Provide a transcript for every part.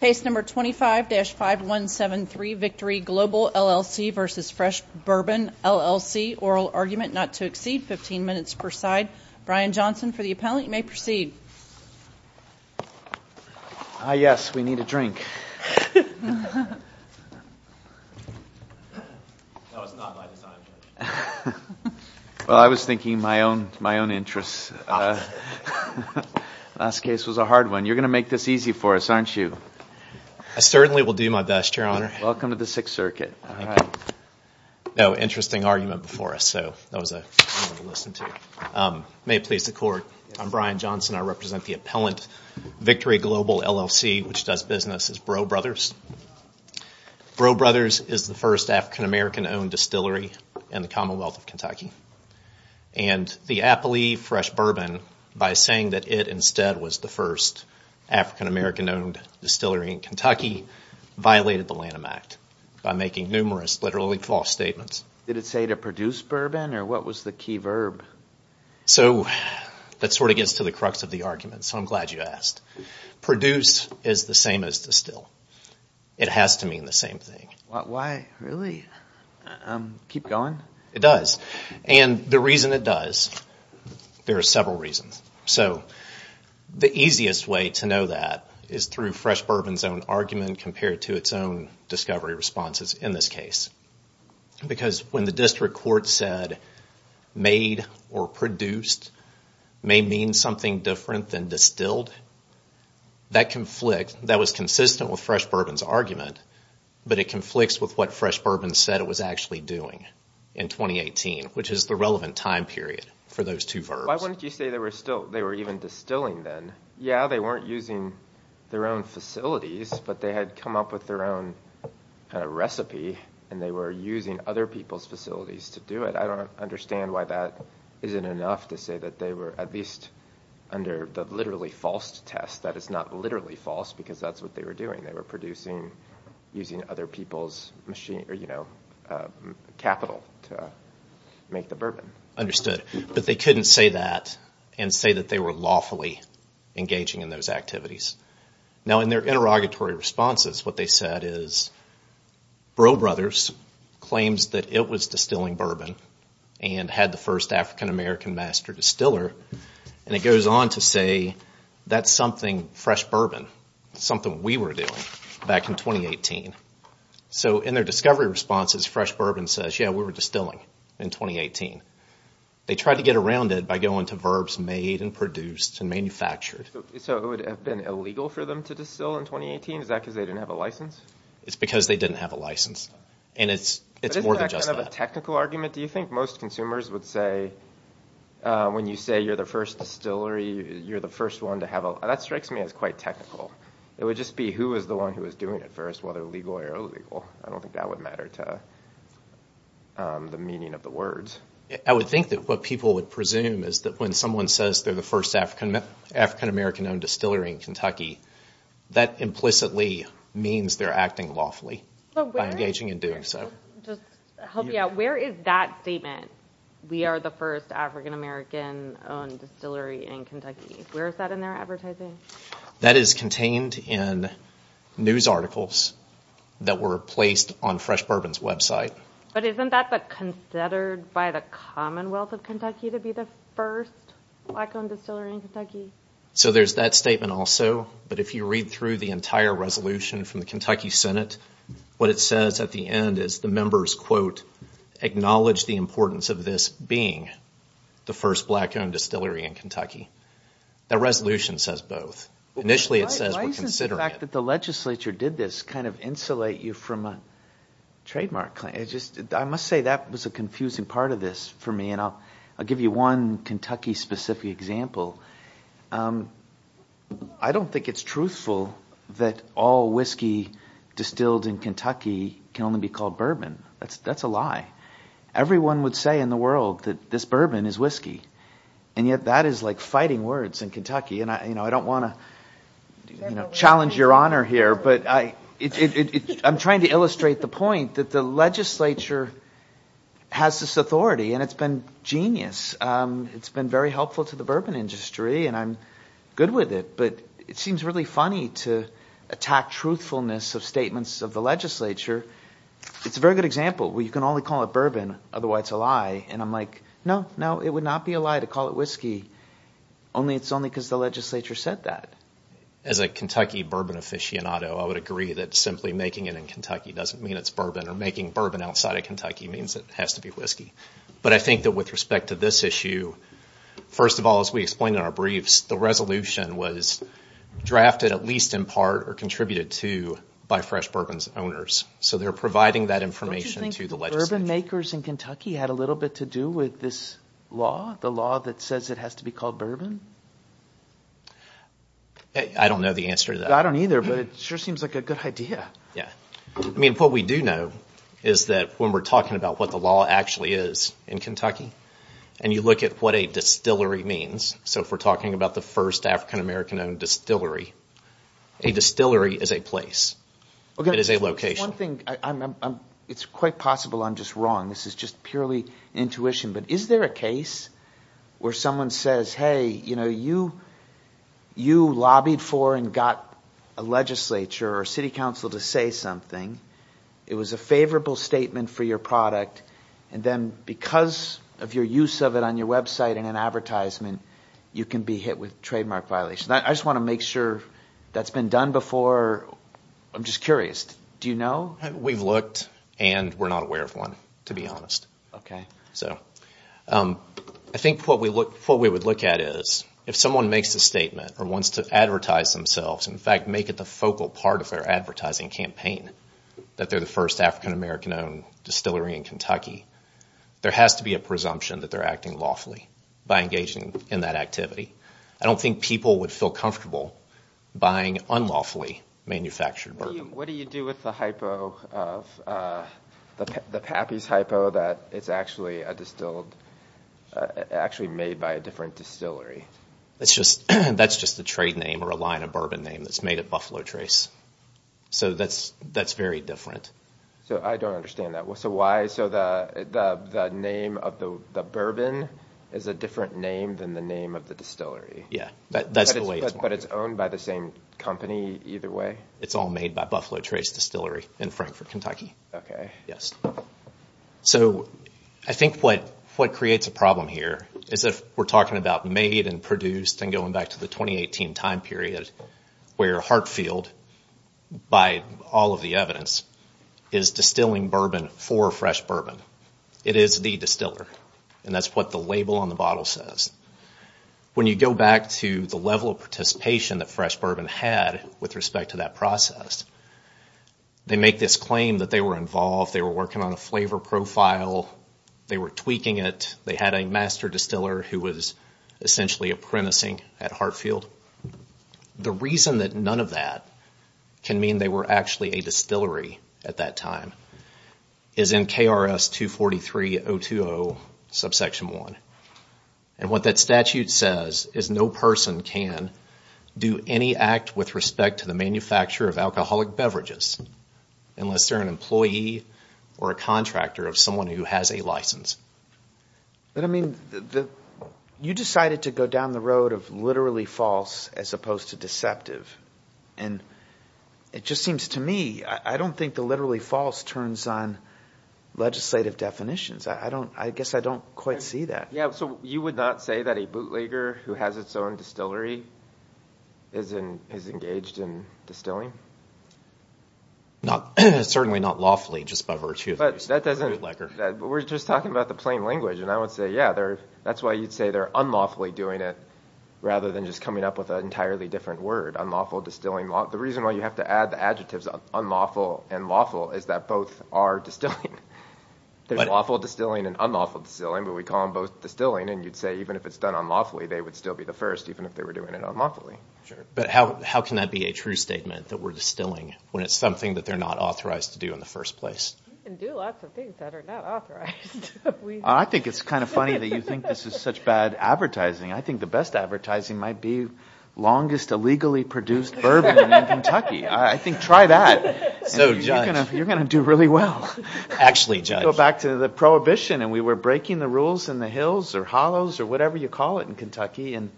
Case number 25-5173, Victory Global LLC v. Fresh Bourbon LLC, Oral Argument Not to Exceed, 15 minutes per side. Brian Johnson for the appellant, you may proceed. Yes, we need a drink. That was not my design. Well, I was thinking my own interests. Last case was a hard one. You're going to make this easy for us, aren't you? I certainly will do my best, Your Honor. Welcome to the Sixth Circuit. Thank you. No, interesting argument before us, so that was a good one to listen to. May it please the Court, I'm Brian Johnson. I represent the appellant, Victory Global LLC, which does business as Bro Brothers. Bro Brothers is the first African-American owned distillery in the Commonwealth of Kentucky. And the appellee, Fresh Bourbon, by saying that it instead was the first African-American owned distillery in Kentucky, violated the Lanham Act by making numerous literally false statements. Did it say to produce bourbon, or what was the key verb? So, that sort of gets to the crux of the argument, so I'm glad you asked. Produce is the same as distill. It has to mean the same thing. Why, really? Keep going? It does. And the reason it does, there are several reasons. So, the easiest way to know that is through Fresh Bourbon's own argument compared to its own discovery responses in this case. Because when the district court said, made or produced may mean something different than distilled, that conflict, that was consistent with Fresh Bourbon's argument, but it conflicts with what Fresh Bourbon said it was actually doing in 2018, which is the relevant time period for those two verbs. Why wouldn't you say they were even distilling then? Yeah, they weren't using their own facilities, but they had come up with their own recipe, and they were using other people's facilities to do it. I don't understand why that isn't enough to say that they were at least under the literally false test. That is not literally false, because that's what they were doing. They were producing using other people's capital to make the bourbon. Understood. But they couldn't say that and say that they were lawfully engaging in those activities. Now, in their interrogatory responses, what they said is, Bro Brothers claims that it was distilling bourbon and had the first African-American master distiller, and it goes on to say that's something Fresh Bourbon, something we were doing back in 2018. So, in their discovery responses, Fresh Bourbon says, yeah, we were distilling in 2018. They tried to get around it by going to verbs made and produced and manufactured. So, it would have been illegal for them to distill in 2018? Is that because they didn't have a license? It's because they didn't have a license, and it's more than just that. Isn't that kind of a technical argument, do you think? Most consumers would say, when you say you're the first distillery, you're the first one to have a – that strikes me as quite technical. It would just be who was the one who was doing it first, whether legal or illegal. I don't think that would matter to the meaning of the words. I would think that what people would presume is that when someone says they're the first African-American-owned distillery in Kentucky, that implicitly means they're acting lawfully by engaging in doing so. Just to help you out, where is that statement, we are the first African-American-owned distillery in Kentucky? Where is that in their advertising? That is contained in news articles that were placed on Fresh Bourbon's website. But isn't that considered by the Commonwealth of Kentucky to be the first black-owned distillery in Kentucky? So there's that statement also, but if you read through the entire resolution from the Kentucky Senate, what it says at the end is the members, quote, acknowledge the importance of this being the first black-owned distillery in Kentucky. That resolution says both. Initially it says we're considering it. The fact that the legislature did this kind of insulate you from a trademark claim, I must say that was a confusing part of this for me. I'll give you one Kentucky-specific example. I don't think it's truthful that all whiskey distilled in Kentucky can only be called bourbon. That's a lie. Everyone would say in the world that this bourbon is whiskey, and yet that is like fighting words in Kentucky. I don't want to challenge your honor here, but I'm trying to illustrate the point that the legislature has this authority, and it's been genius. It's been very helpful to the bourbon industry, and I'm good with it. But it seems really funny to attack truthfulness of statements of the legislature. It's a very good example where you can only call it bourbon, otherwise it's a lie. And I'm like, no, no, it would not be a lie to call it whiskey. It's only because the legislature said that. As a Kentucky bourbon aficionado, I would agree that simply making it in Kentucky doesn't mean it's bourbon, or making bourbon outside of Kentucky means it has to be whiskey. But I think that with respect to this issue, first of all, as we explained in our briefs, the resolution was drafted at least in part or contributed to by Fresh Bourbon's owners. So they're providing that information to the legislature. Don't you think the bourbon makers in Kentucky had a little bit to do with this law, the law that says it has to be called bourbon? I don't know the answer to that. I don't either, but it sure seems like a good idea. What we do know is that when we're talking about what the law actually is in Kentucky and you look at what a distillery means, so if we're talking about the first African-American-owned distillery, a distillery is a place. It is a location. It's quite possible I'm just wrong. This is just purely intuition. But is there a case where someone says, hey, you know, you lobbied for and got a legislature or city council to say something. It was a favorable statement for your product, and then because of your use of it on your website in an advertisement, you can be hit with trademark violation. I just want to make sure that's been done before. I'm just curious. Do you know? We've looked, and we're not aware of one, to be honest. So I think what we would look at is if someone makes a statement or wants to advertise themselves, in fact make it the focal part of their advertising campaign, that they're the first African-American-owned distillery in Kentucky, there has to be a presumption that they're acting lawfully by engaging in that activity. I don't think people would feel comfortable buying unlawfully manufactured bourbon. What do you do with the hypo, the Pappy's hypo, that it's actually made by a different distillery? That's just the trade name or a line of bourbon name that's made at Buffalo Trace. So that's very different. So I don't understand that. So the name of the bourbon is a different name than the name of the distillery? Yeah, that's the way it's marked. But it's owned by the same company either way? It's all made by Buffalo Trace Distillery in Frankfort, Kentucky. Yes. So I think what creates a problem here is if we're talking about made and produced and going back to the 2018 time period where Hartfield, by all of the evidence, is distilling bourbon for Fresh Bourbon. It is the distiller. And that's what the label on the bottle says. When you go back to the level of participation that Fresh Bourbon had with respect to that process, they make this claim that they were involved, they were working on a flavor profile, they were tweaking it, they had a master distiller who was essentially apprenticing at Hartfield. The reason that none of that can mean they were actually a distillery at that time is in KRS 243.020 subsection 1. And what that statute says is no person can do any act with respect to the manufacture of alcoholic beverages unless they're an employee or a contractor of someone who has a license. But, I mean, you decided to go down the road of literally false as opposed to deceptive. And it just seems to me, I don't think the literally false turns on legislative definitions. I guess I don't quite see that. Yeah, so you would not say that a bootlegger who has its own distillery is engaged in distilling? Certainly not lawfully just by virtue of being a bootlegger. But we're just talking about the plain language. And I would say, yeah, that's why you'd say they're unlawfully doing it rather than just coming up with an entirely different word, unlawful distilling. The reason why you have to add the adjectives unlawful and lawful is that both are distilling. There's lawful distilling and unlawful distilling, but we call them both distilling. And you'd say even if it's done unlawfully, they would still be the first, even if they were doing it unlawfully. But how can that be a true statement that we're distilling when it's something that they're not authorized to do in the first place? You can do lots of things that are not authorized. I think it's kind of funny that you think this is such bad advertising. I think the best advertising might be longest illegally produced bourbon in Kentucky. I think try that. So judge. You're going to do really well. Actually, judge. Go back to the prohibition and we were breaking the rules in the hills or hollows or whatever you call it in Kentucky, and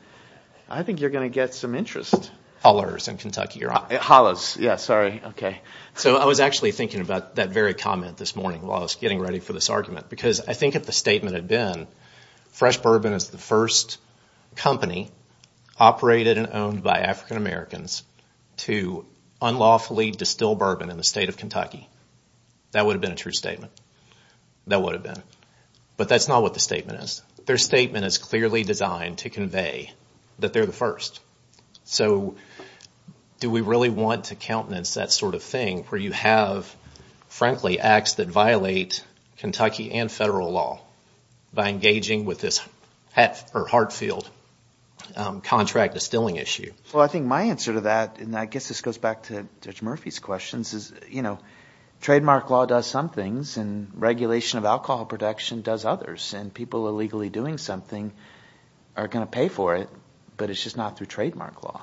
I think you're going to get some interest. Hollers in Kentucky. Hollows, yeah, sorry. So I was actually thinking about that very comment this morning while I was getting ready for this argument because I think if the statement had been fresh bourbon is the first company operated and owned by African-Americans to unlawfully distill bourbon in the state of Kentucky, that would have been a true statement. That would have been. But that's not what the statement is. Their statement is clearly designed to convey that they're the first. So do we really want to countenance that sort of thing where you have, frankly, acts that violate Kentucky and federal law by engaging with this Hartfield contract distilling issue? Well, I think my answer to that, and I guess this goes back to Judge Murphy's questions, is trademark law does some things and regulation of alcohol production does others, and people illegally doing something are going to pay for it, but it's just not through trademark law.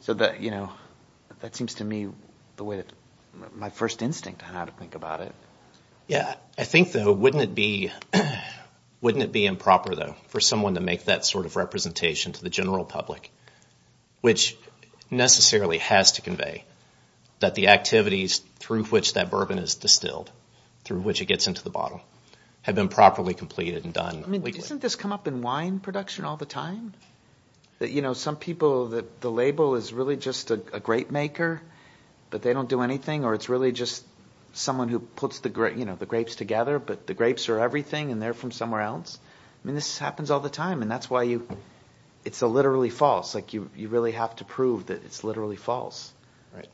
So that seems to me the way that my first instinct on how to think about it. I think, though, wouldn't it be improper, though, for someone to make that sort of representation to the general public, which necessarily has to convey that the activities through which that bourbon is distilled, through which it gets into the bottle, have been properly completed and done illegally? I mean, doesn't this come up in wine production all the time? You know, some people, the label is really just a grape maker, but they don't do anything, or it's really just someone who puts the grapes together, but the grapes are everything and they're from somewhere else. I mean, this happens all the time, and that's why you, it's literally false. Like, you really have to prove that it's literally false. Right.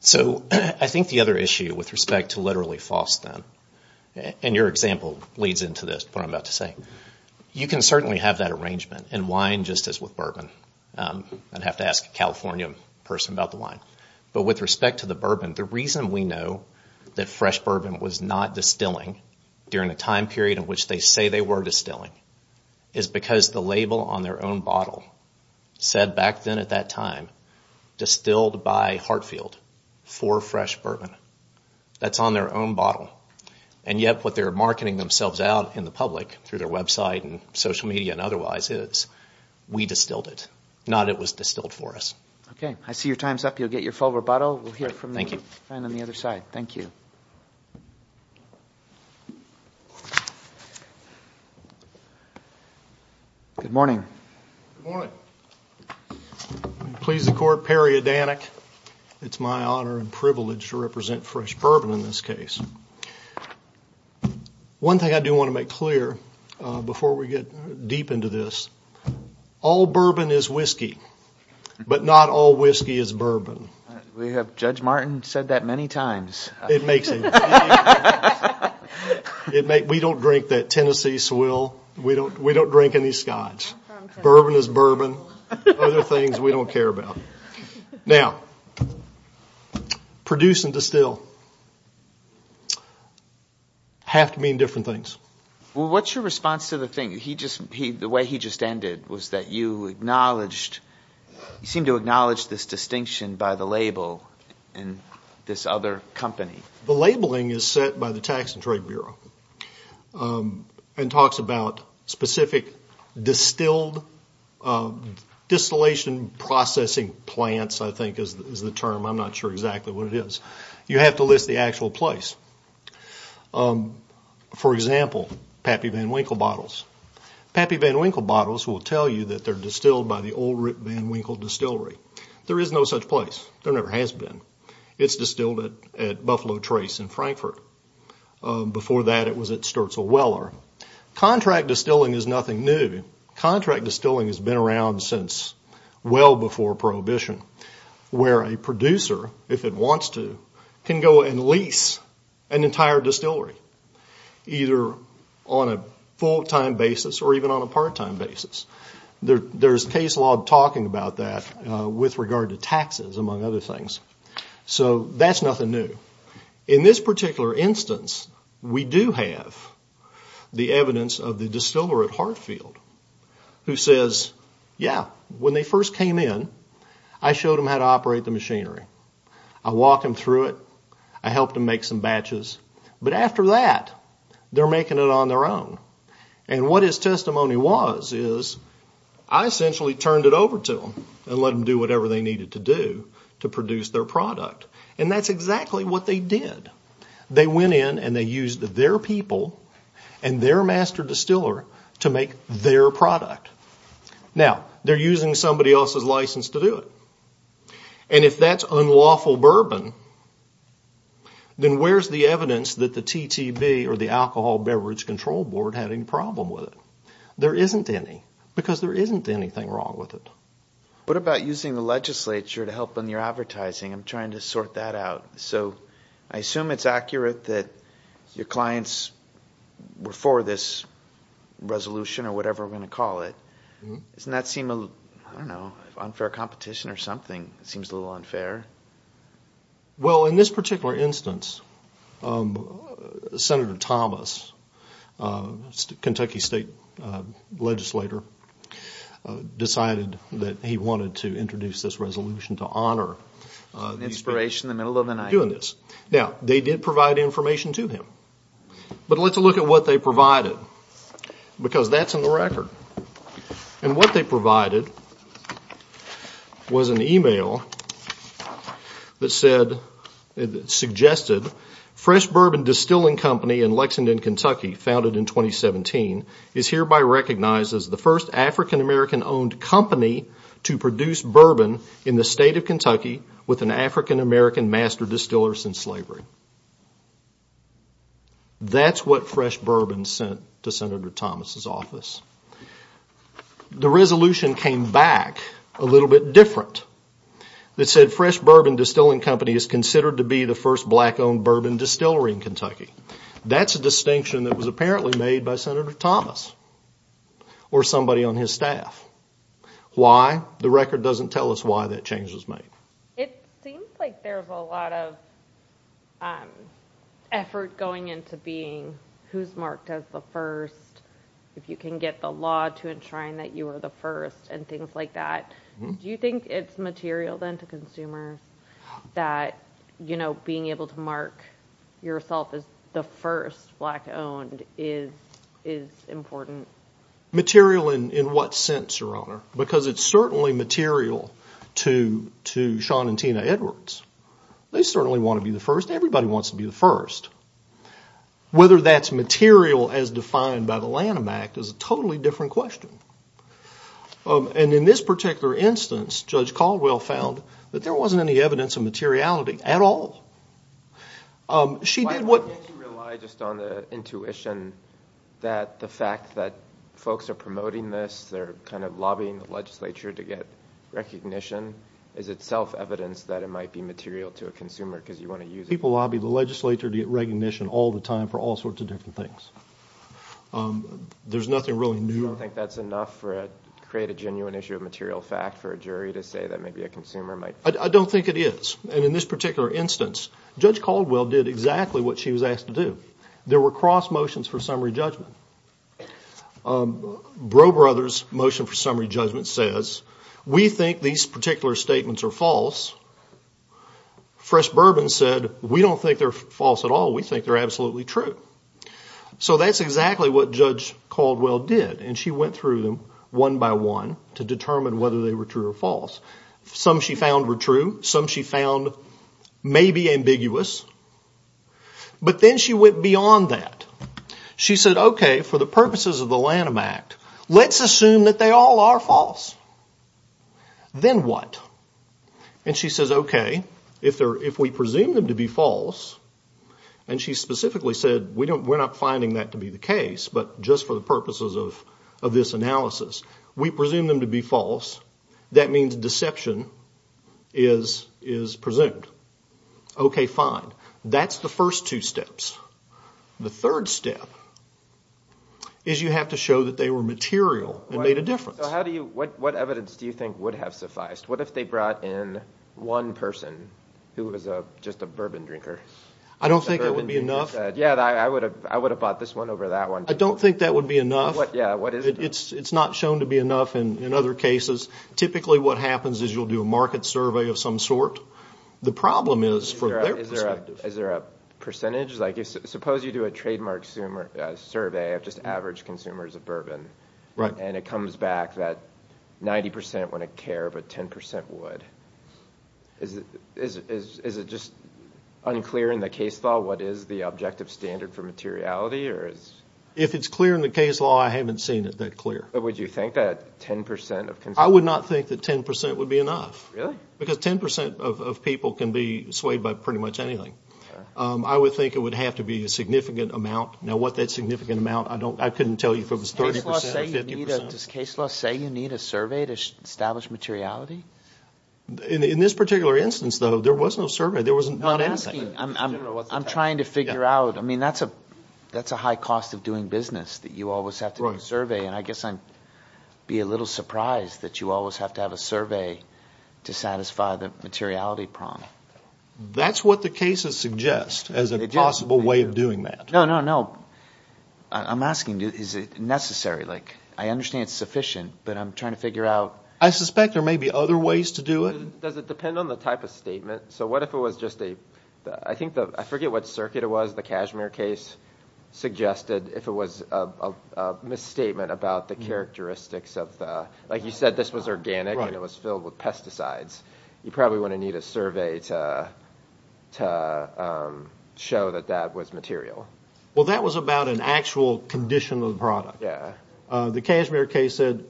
So I think the other issue with respect to literally false, then, and your example leads into this, what I'm about to say, you can certainly have that arrangement in wine just as with bourbon. I'd have to ask a California person about the wine. But with respect to the bourbon, the reason we know that fresh bourbon was not distilling during the time period in which they say they were distilling is because the label on their own bottle said back then at that time, distilled by Hartfield for fresh bourbon. That's on their own bottle. And yet what they're marketing themselves out in the public through their website and social media and otherwise is, we distilled it, not it was distilled for us. Okay. I see your time's up. You'll get your full rebuttal. Thank you. And on the other side. Thank you. Good morning. Good morning. I please the Court, Perry Adanik. It's my honor and privilege to represent fresh bourbon in this case. One thing I do want to make clear before we get deep into this, all bourbon is whiskey, but not all whiskey is bourbon. We have Judge Martin said that many times. It makes sense. We don't drink that Tennessee swill. We don't drink any scotch. Bourbon is bourbon. Other things we don't care about. Now, produce and distill have to mean different things. Well, what's your response to the thing? The way he just ended was that you acknowledged, you seem to acknowledge this distinction by the label in this other company. The labeling is set by the Tax and Trade Bureau and talks about specific distilled, distillation processing plants, I think is the term. I'm not sure exactly what it is. You have to list the actual place. For example, Pappy Van Winkle bottles. Pappy Van Winkle bottles will tell you that they're distilled by the Old Root Van Winkle Distillery. There is no such place. There never has been. It's distilled at Buffalo Trace in Frankfurt. Before that, it was at Sturtzell Weller. Contract distilling is nothing new. Contract distilling has been around since well before Prohibition, where a producer, if it wants to, can go and lease an entire distillery, either on a full-time basis or even on a part-time basis. There's case law talking about that with regard to taxes, among other things. So that's nothing new. In this particular instance, we do have the evidence of the distiller at Hartfield, who says, yeah, when they first came in, I showed them how to operate the machinery. I walked them through it. I helped them make some batches. But after that, they're making it on their own. And what his testimony was is I essentially turned it over to them and let them do whatever they needed to do to produce their product. And that's exactly what they did. They went in and they used their people and their master distiller to make their product. Now, they're using somebody else's license to do it. And if that's unlawful bourbon, then where's the evidence that the TTB or the Alcohol Beverage Control Board had any problem with it? There isn't any because there isn't anything wrong with it. What about using the legislature to help in your advertising? I'm trying to sort that out. So I assume it's accurate that your clients were for this resolution or whatever we're going to call it. Doesn't that seem a little, I don't know, unfair competition or something? It seems a little unfair. Well, in this particular instance, Senator Thomas, Kentucky state legislator, decided that he wanted to introduce this resolution to honor these people. Inspiration in the middle of the night. Now, they did provide information to him. But let's look at what they provided because that's in the record. And what they provided was an email that said, suggested, Fresh Bourbon Distilling Company in Lexington, Kentucky, founded in 2017, is hereby recognized as the first African-American owned company to produce bourbon in the state of Kentucky with an African-American master distiller since slavery. That's what Fresh Bourbon sent to Senator Thomas' office. The resolution came back a little bit different. It said, Fresh Bourbon Distilling Company is considered to be the first black owned bourbon distillery in Kentucky. That's a distinction that was apparently made by Senator Thomas or somebody on his staff. Why? The record doesn't tell us why that change was made. It seems like there's a lot of effort going into being who's marked as the first, if you can get the law to enshrine that you are the first and things like that. Do you think it's material then to consumers that being able to mark yourself as the first black owned is important? Material in what sense, Your Honor? Because it's certainly material to Sean and Tina Edwards. They certainly want to be the first. Everybody wants to be the first. Whether that's material as defined by the Lanham Act is a totally different question. And in this particular instance, Judge Caldwell found that there wasn't any evidence of materiality at all. Why can't you rely just on the intuition that the fact that folks are promoting this, they're kind of lobbying the legislature to get recognition, is it self-evidence that it might be material to a consumer because you want to use it? People lobby the legislature to get recognition all the time for all sorts of different things. There's nothing really new. Do you think that's enough to create a genuine issue of material fact for a jury to say that maybe a consumer might? I don't think it is. And in this particular instance, Judge Caldwell did exactly what she was asked to do. There were cross motions for summary judgment. Bro Brothers' motion for summary judgment says, we think these particular statements are false. Fresh Bourbon said, we don't think they're false at all. We think they're absolutely true. So that's exactly what Judge Caldwell did, and she went through them one by one to determine whether they were true or false. Some she found were true. Some she found maybe ambiguous. But then she went beyond that. She said, okay, for the purposes of the Lanham Act, let's assume that they all are false. Then what? And she says, okay, if we presume them to be false, and she specifically said we're not finding that to be the case, but just for the purposes of this analysis, we presume them to be false. That means deception is presumed. Okay, fine. That's the first two steps. The third step is you have to show that they were material and made a difference. So what evidence do you think would have sufficed? What if they brought in one person who was just a bourbon drinker? I don't think that would be enough. Yeah, I would have bought this one over that one. I don't think that would be enough. It's not shown to be enough in other cases. Typically what happens is you'll do a market survey of some sort. The problem is from their perspective. Is there a percentage? Like suppose you do a trademark survey of just average consumers of bourbon. Right. And it comes back that 90% wouldn't care, but 10% would. Is it just unclear in the case law what is the objective standard for materiality? If it's clear in the case law, I haven't seen it that clear. Would you think that 10% of consumers? I would not think that 10% would be enough. Really? Because 10% of people can be swayed by pretty much anything. I would think it would have to be a significant amount. Now what that significant amount, I couldn't tell you if it was 30% or 50%. Does case law say you need a survey to establish materiality? In this particular instance, though, there was no survey. There was not anything. I'm trying to figure out. I mean that's a high cost of doing business that you always have to do a survey. And I guess I'd be a little surprised that you always have to have a survey to satisfy the materiality prong. That's what the cases suggest as a possible way of doing that. No, no, no. I'm asking is it necessary? Like I understand it's sufficient, but I'm trying to figure out. I suspect there may be other ways to do it. Does it depend on the type of statement? So what if it was just a – I forget what circuit it was. The cashmere case suggested if it was a misstatement about the characteristics of the – like you said this was organic and it was filled with pesticides. You probably wouldn't need a survey to show that that was material. Well, that was about an actual condition of the product. Yeah. The cashmere case said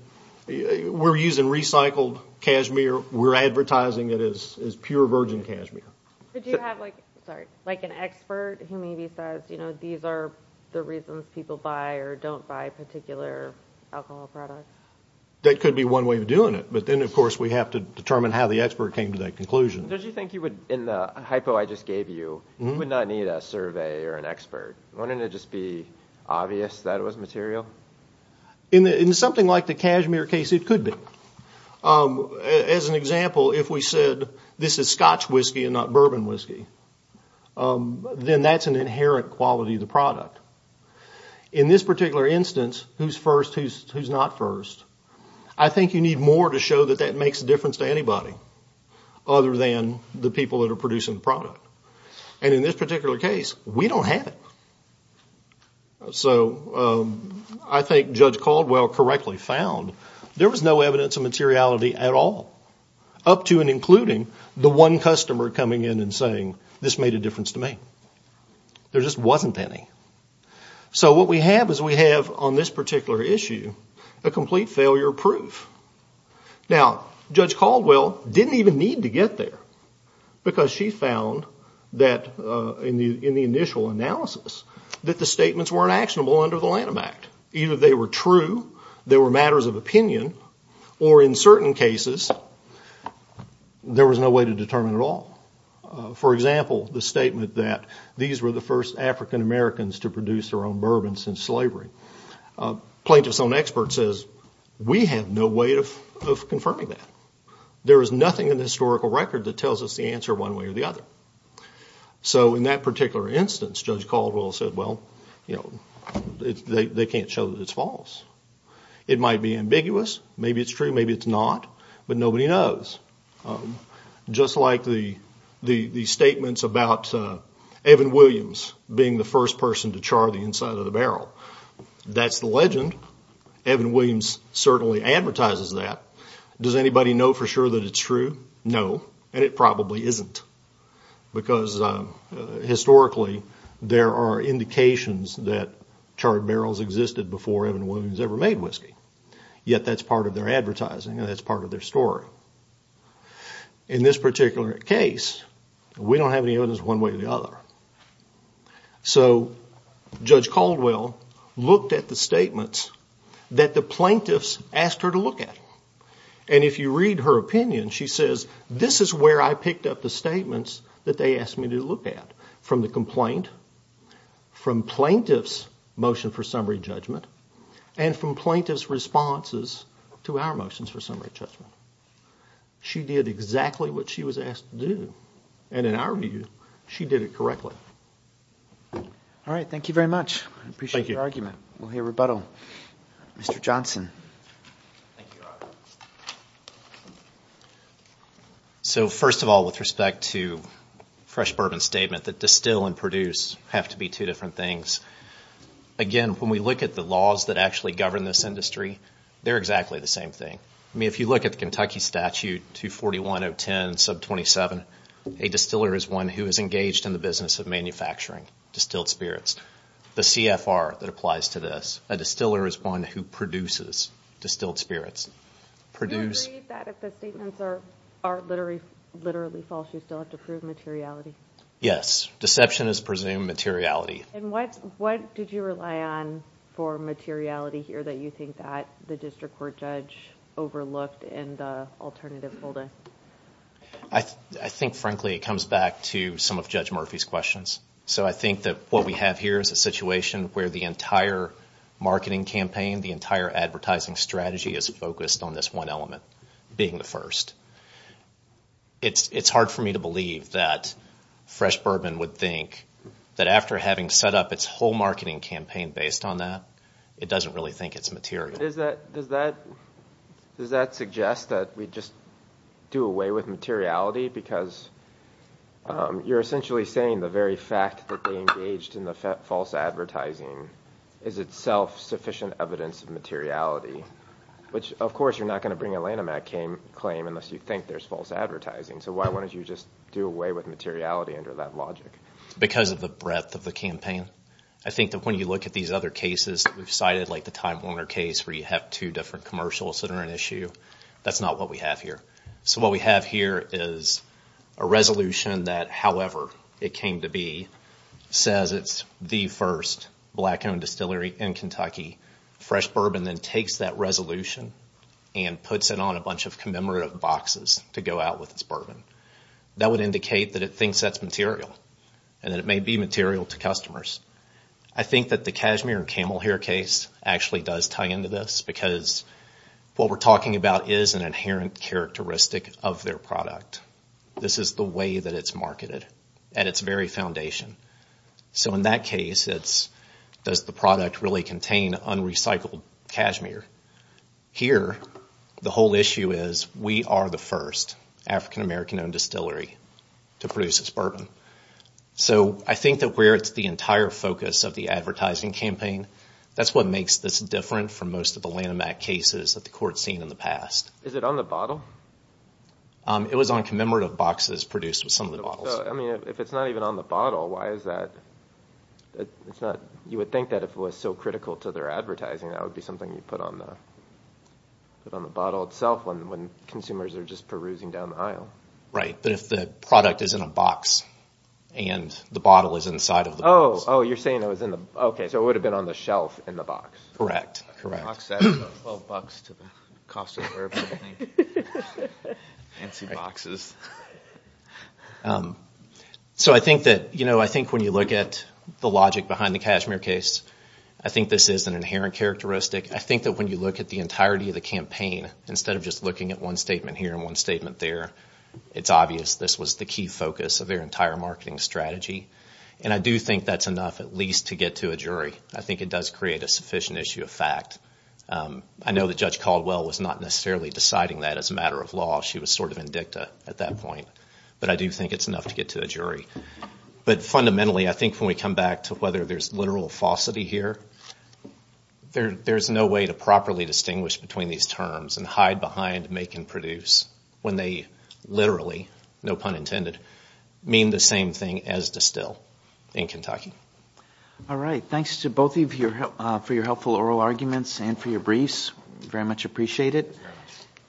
we're using recycled cashmere. We're advertising it as pure virgin cashmere. Did you have like an expert who maybe says these are the reasons people buy or don't buy particular alcohol products? That could be one way of doing it. But then, of course, we have to determine how the expert came to that conclusion. Did you think you would – in the hypo I just gave you, you would not need a survey or an expert. Wouldn't it just be obvious that it was material? In something like the cashmere case, it could be. As an example, if we said this is scotch whiskey and not bourbon whiskey, then that's an inherent quality of the product. In this particular instance, who's first, who's not first, I think you need more to show that that makes a difference to anybody other than the people that are producing the product. And in this particular case, we don't have it. So I think Judge Caldwell correctly found there was no evidence of materiality at all, up to and including the one customer coming in and saying this made a difference to me. There just wasn't any. So what we have is we have on this particular issue a complete failure proof. Now, Judge Caldwell didn't even need to get there because she found that in the initial analysis that the statements weren't actionable under the Lanham Act. Either they were true, they were matters of opinion, or in certain cases, there was no way to determine at all. For example, the statement that these were the first African Americans to produce their own bourbon since slavery. Plaintiff's own expert says we have no way of confirming that. There is nothing in the historical record that tells us the answer one way or the other. So in that particular instance, Judge Caldwell said, they can't show that it's false. It might be ambiguous, maybe it's true, maybe it's not, but nobody knows. Just like the statements about Evan Williams being the first person to char the inside of the barrel. That's the legend. Evan Williams certainly advertises that. Does anybody know for sure that it's true? No, and it probably isn't. Because historically, there are indications that charred barrels existed before Evan Williams ever made whiskey. Yet that's part of their advertising and that's part of their story. In this particular case, we don't have any evidence one way or the other. So Judge Caldwell looked at the statements that the plaintiffs asked her to look at. And if you read her opinion, she says, this is where I picked up the statements that they asked me to look at. From the complaint, from plaintiff's motion for summary judgment, and from plaintiff's responses to our motions for summary judgment. She did exactly what she was asked to do. And in our view, she did it correctly. All right, thank you very much. I appreciate your argument. We'll hear rebuttal. Mr. Johnson. Thank you, Robert. So first of all, with respect to fresh bourbon statement, that distill and produce have to be two different things. Again, when we look at the laws that actually govern this industry, they're exactly the same thing. I mean, if you look at the Kentucky statute, 241.010.27, a distiller is one who is engaged in the business of manufacturing distilled spirits. The CFR that applies to this. A distiller is one who produces distilled spirits. Do you agree that if the statements are literally false, you still have to prove materiality? Yes. Deception is presumed materiality. And what did you rely on for materiality here that you think that the district court judge overlooked in the alternative holding? I think, frankly, it comes back to some of Judge Murphy's questions. So I think that what we have here is a situation where the entire marketing campaign, the entire advertising strategy is focused on this one element, being the first. It's hard for me to believe that fresh bourbon would think that after having set up its whole marketing campaign based on that, it doesn't really think it's material. Does that suggest that we just do away with materiality? Because you're essentially saying the very fact that they engaged in the false advertising is itself sufficient evidence of materiality, which, of course, you're not going to bring a Lanham Act claim unless you think there's false advertising. So why wouldn't you just do away with materiality under that logic? Because of the breadth of the campaign. I think that when you look at these other cases that we've cited, like the Time Warner case where you have two different commercials that are an issue, that's not what we have here. So what we have here is a resolution that, however it came to be, says it's the first black-owned distillery in Kentucky. Fresh bourbon then takes that resolution and puts it on a bunch of commemorative boxes to go out with its bourbon. That would indicate that it thinks that's material and that it may be material to customers. I think that the cashmere and camel hair case actually does tie into this because what we're talking about is an inherent characteristic of their product. This is the way that it's marketed at its very foundation. So in that case, does the product really contain unrecycled cashmere? Here, the whole issue is we are the first African-American-owned distillery to produce this bourbon. So I think that where it's the entire focus of the advertising campaign, that's what makes this different from most of the Lanham Act cases that the court's seen in the past. Is it on the bottle? It was on commemorative boxes produced with some of the bottles. If it's not even on the bottle, why is that? You would think that if it was so critical to their advertising, that would be something you'd put on the bottle itself when consumers are just perusing down the aisle. Right, but if the product is in a box and the bottle is inside of the box. Oh, you're saying it would have been on the shelf in the box. Correct, correct. A box that's about $12 to the cost of herbs, I think. Fancy boxes. So I think that when you look at the logic behind the cashmere case, I think this is an inherent characteristic. I think that when you look at the entirety of the campaign, instead of just looking at one statement here and one statement there, it's obvious this was the key focus of their entire marketing strategy. And I do think that's enough at least to get to a jury. I think it does create a sufficient issue of fact. I know that Judge Caldwell was not necessarily deciding that as a matter of law. She was sort of in dicta at that point. But I do think it's enough to get to a jury. But fundamentally, I think when we come back to whether there's literal falsity here, there's no way to properly distinguish between these terms and hide behind make and produce when they literally, no pun intended, mean the same thing as distill in Kentucky. All right. Thanks to both of you for your helpful oral arguments and for your briefs. We very much appreciate it.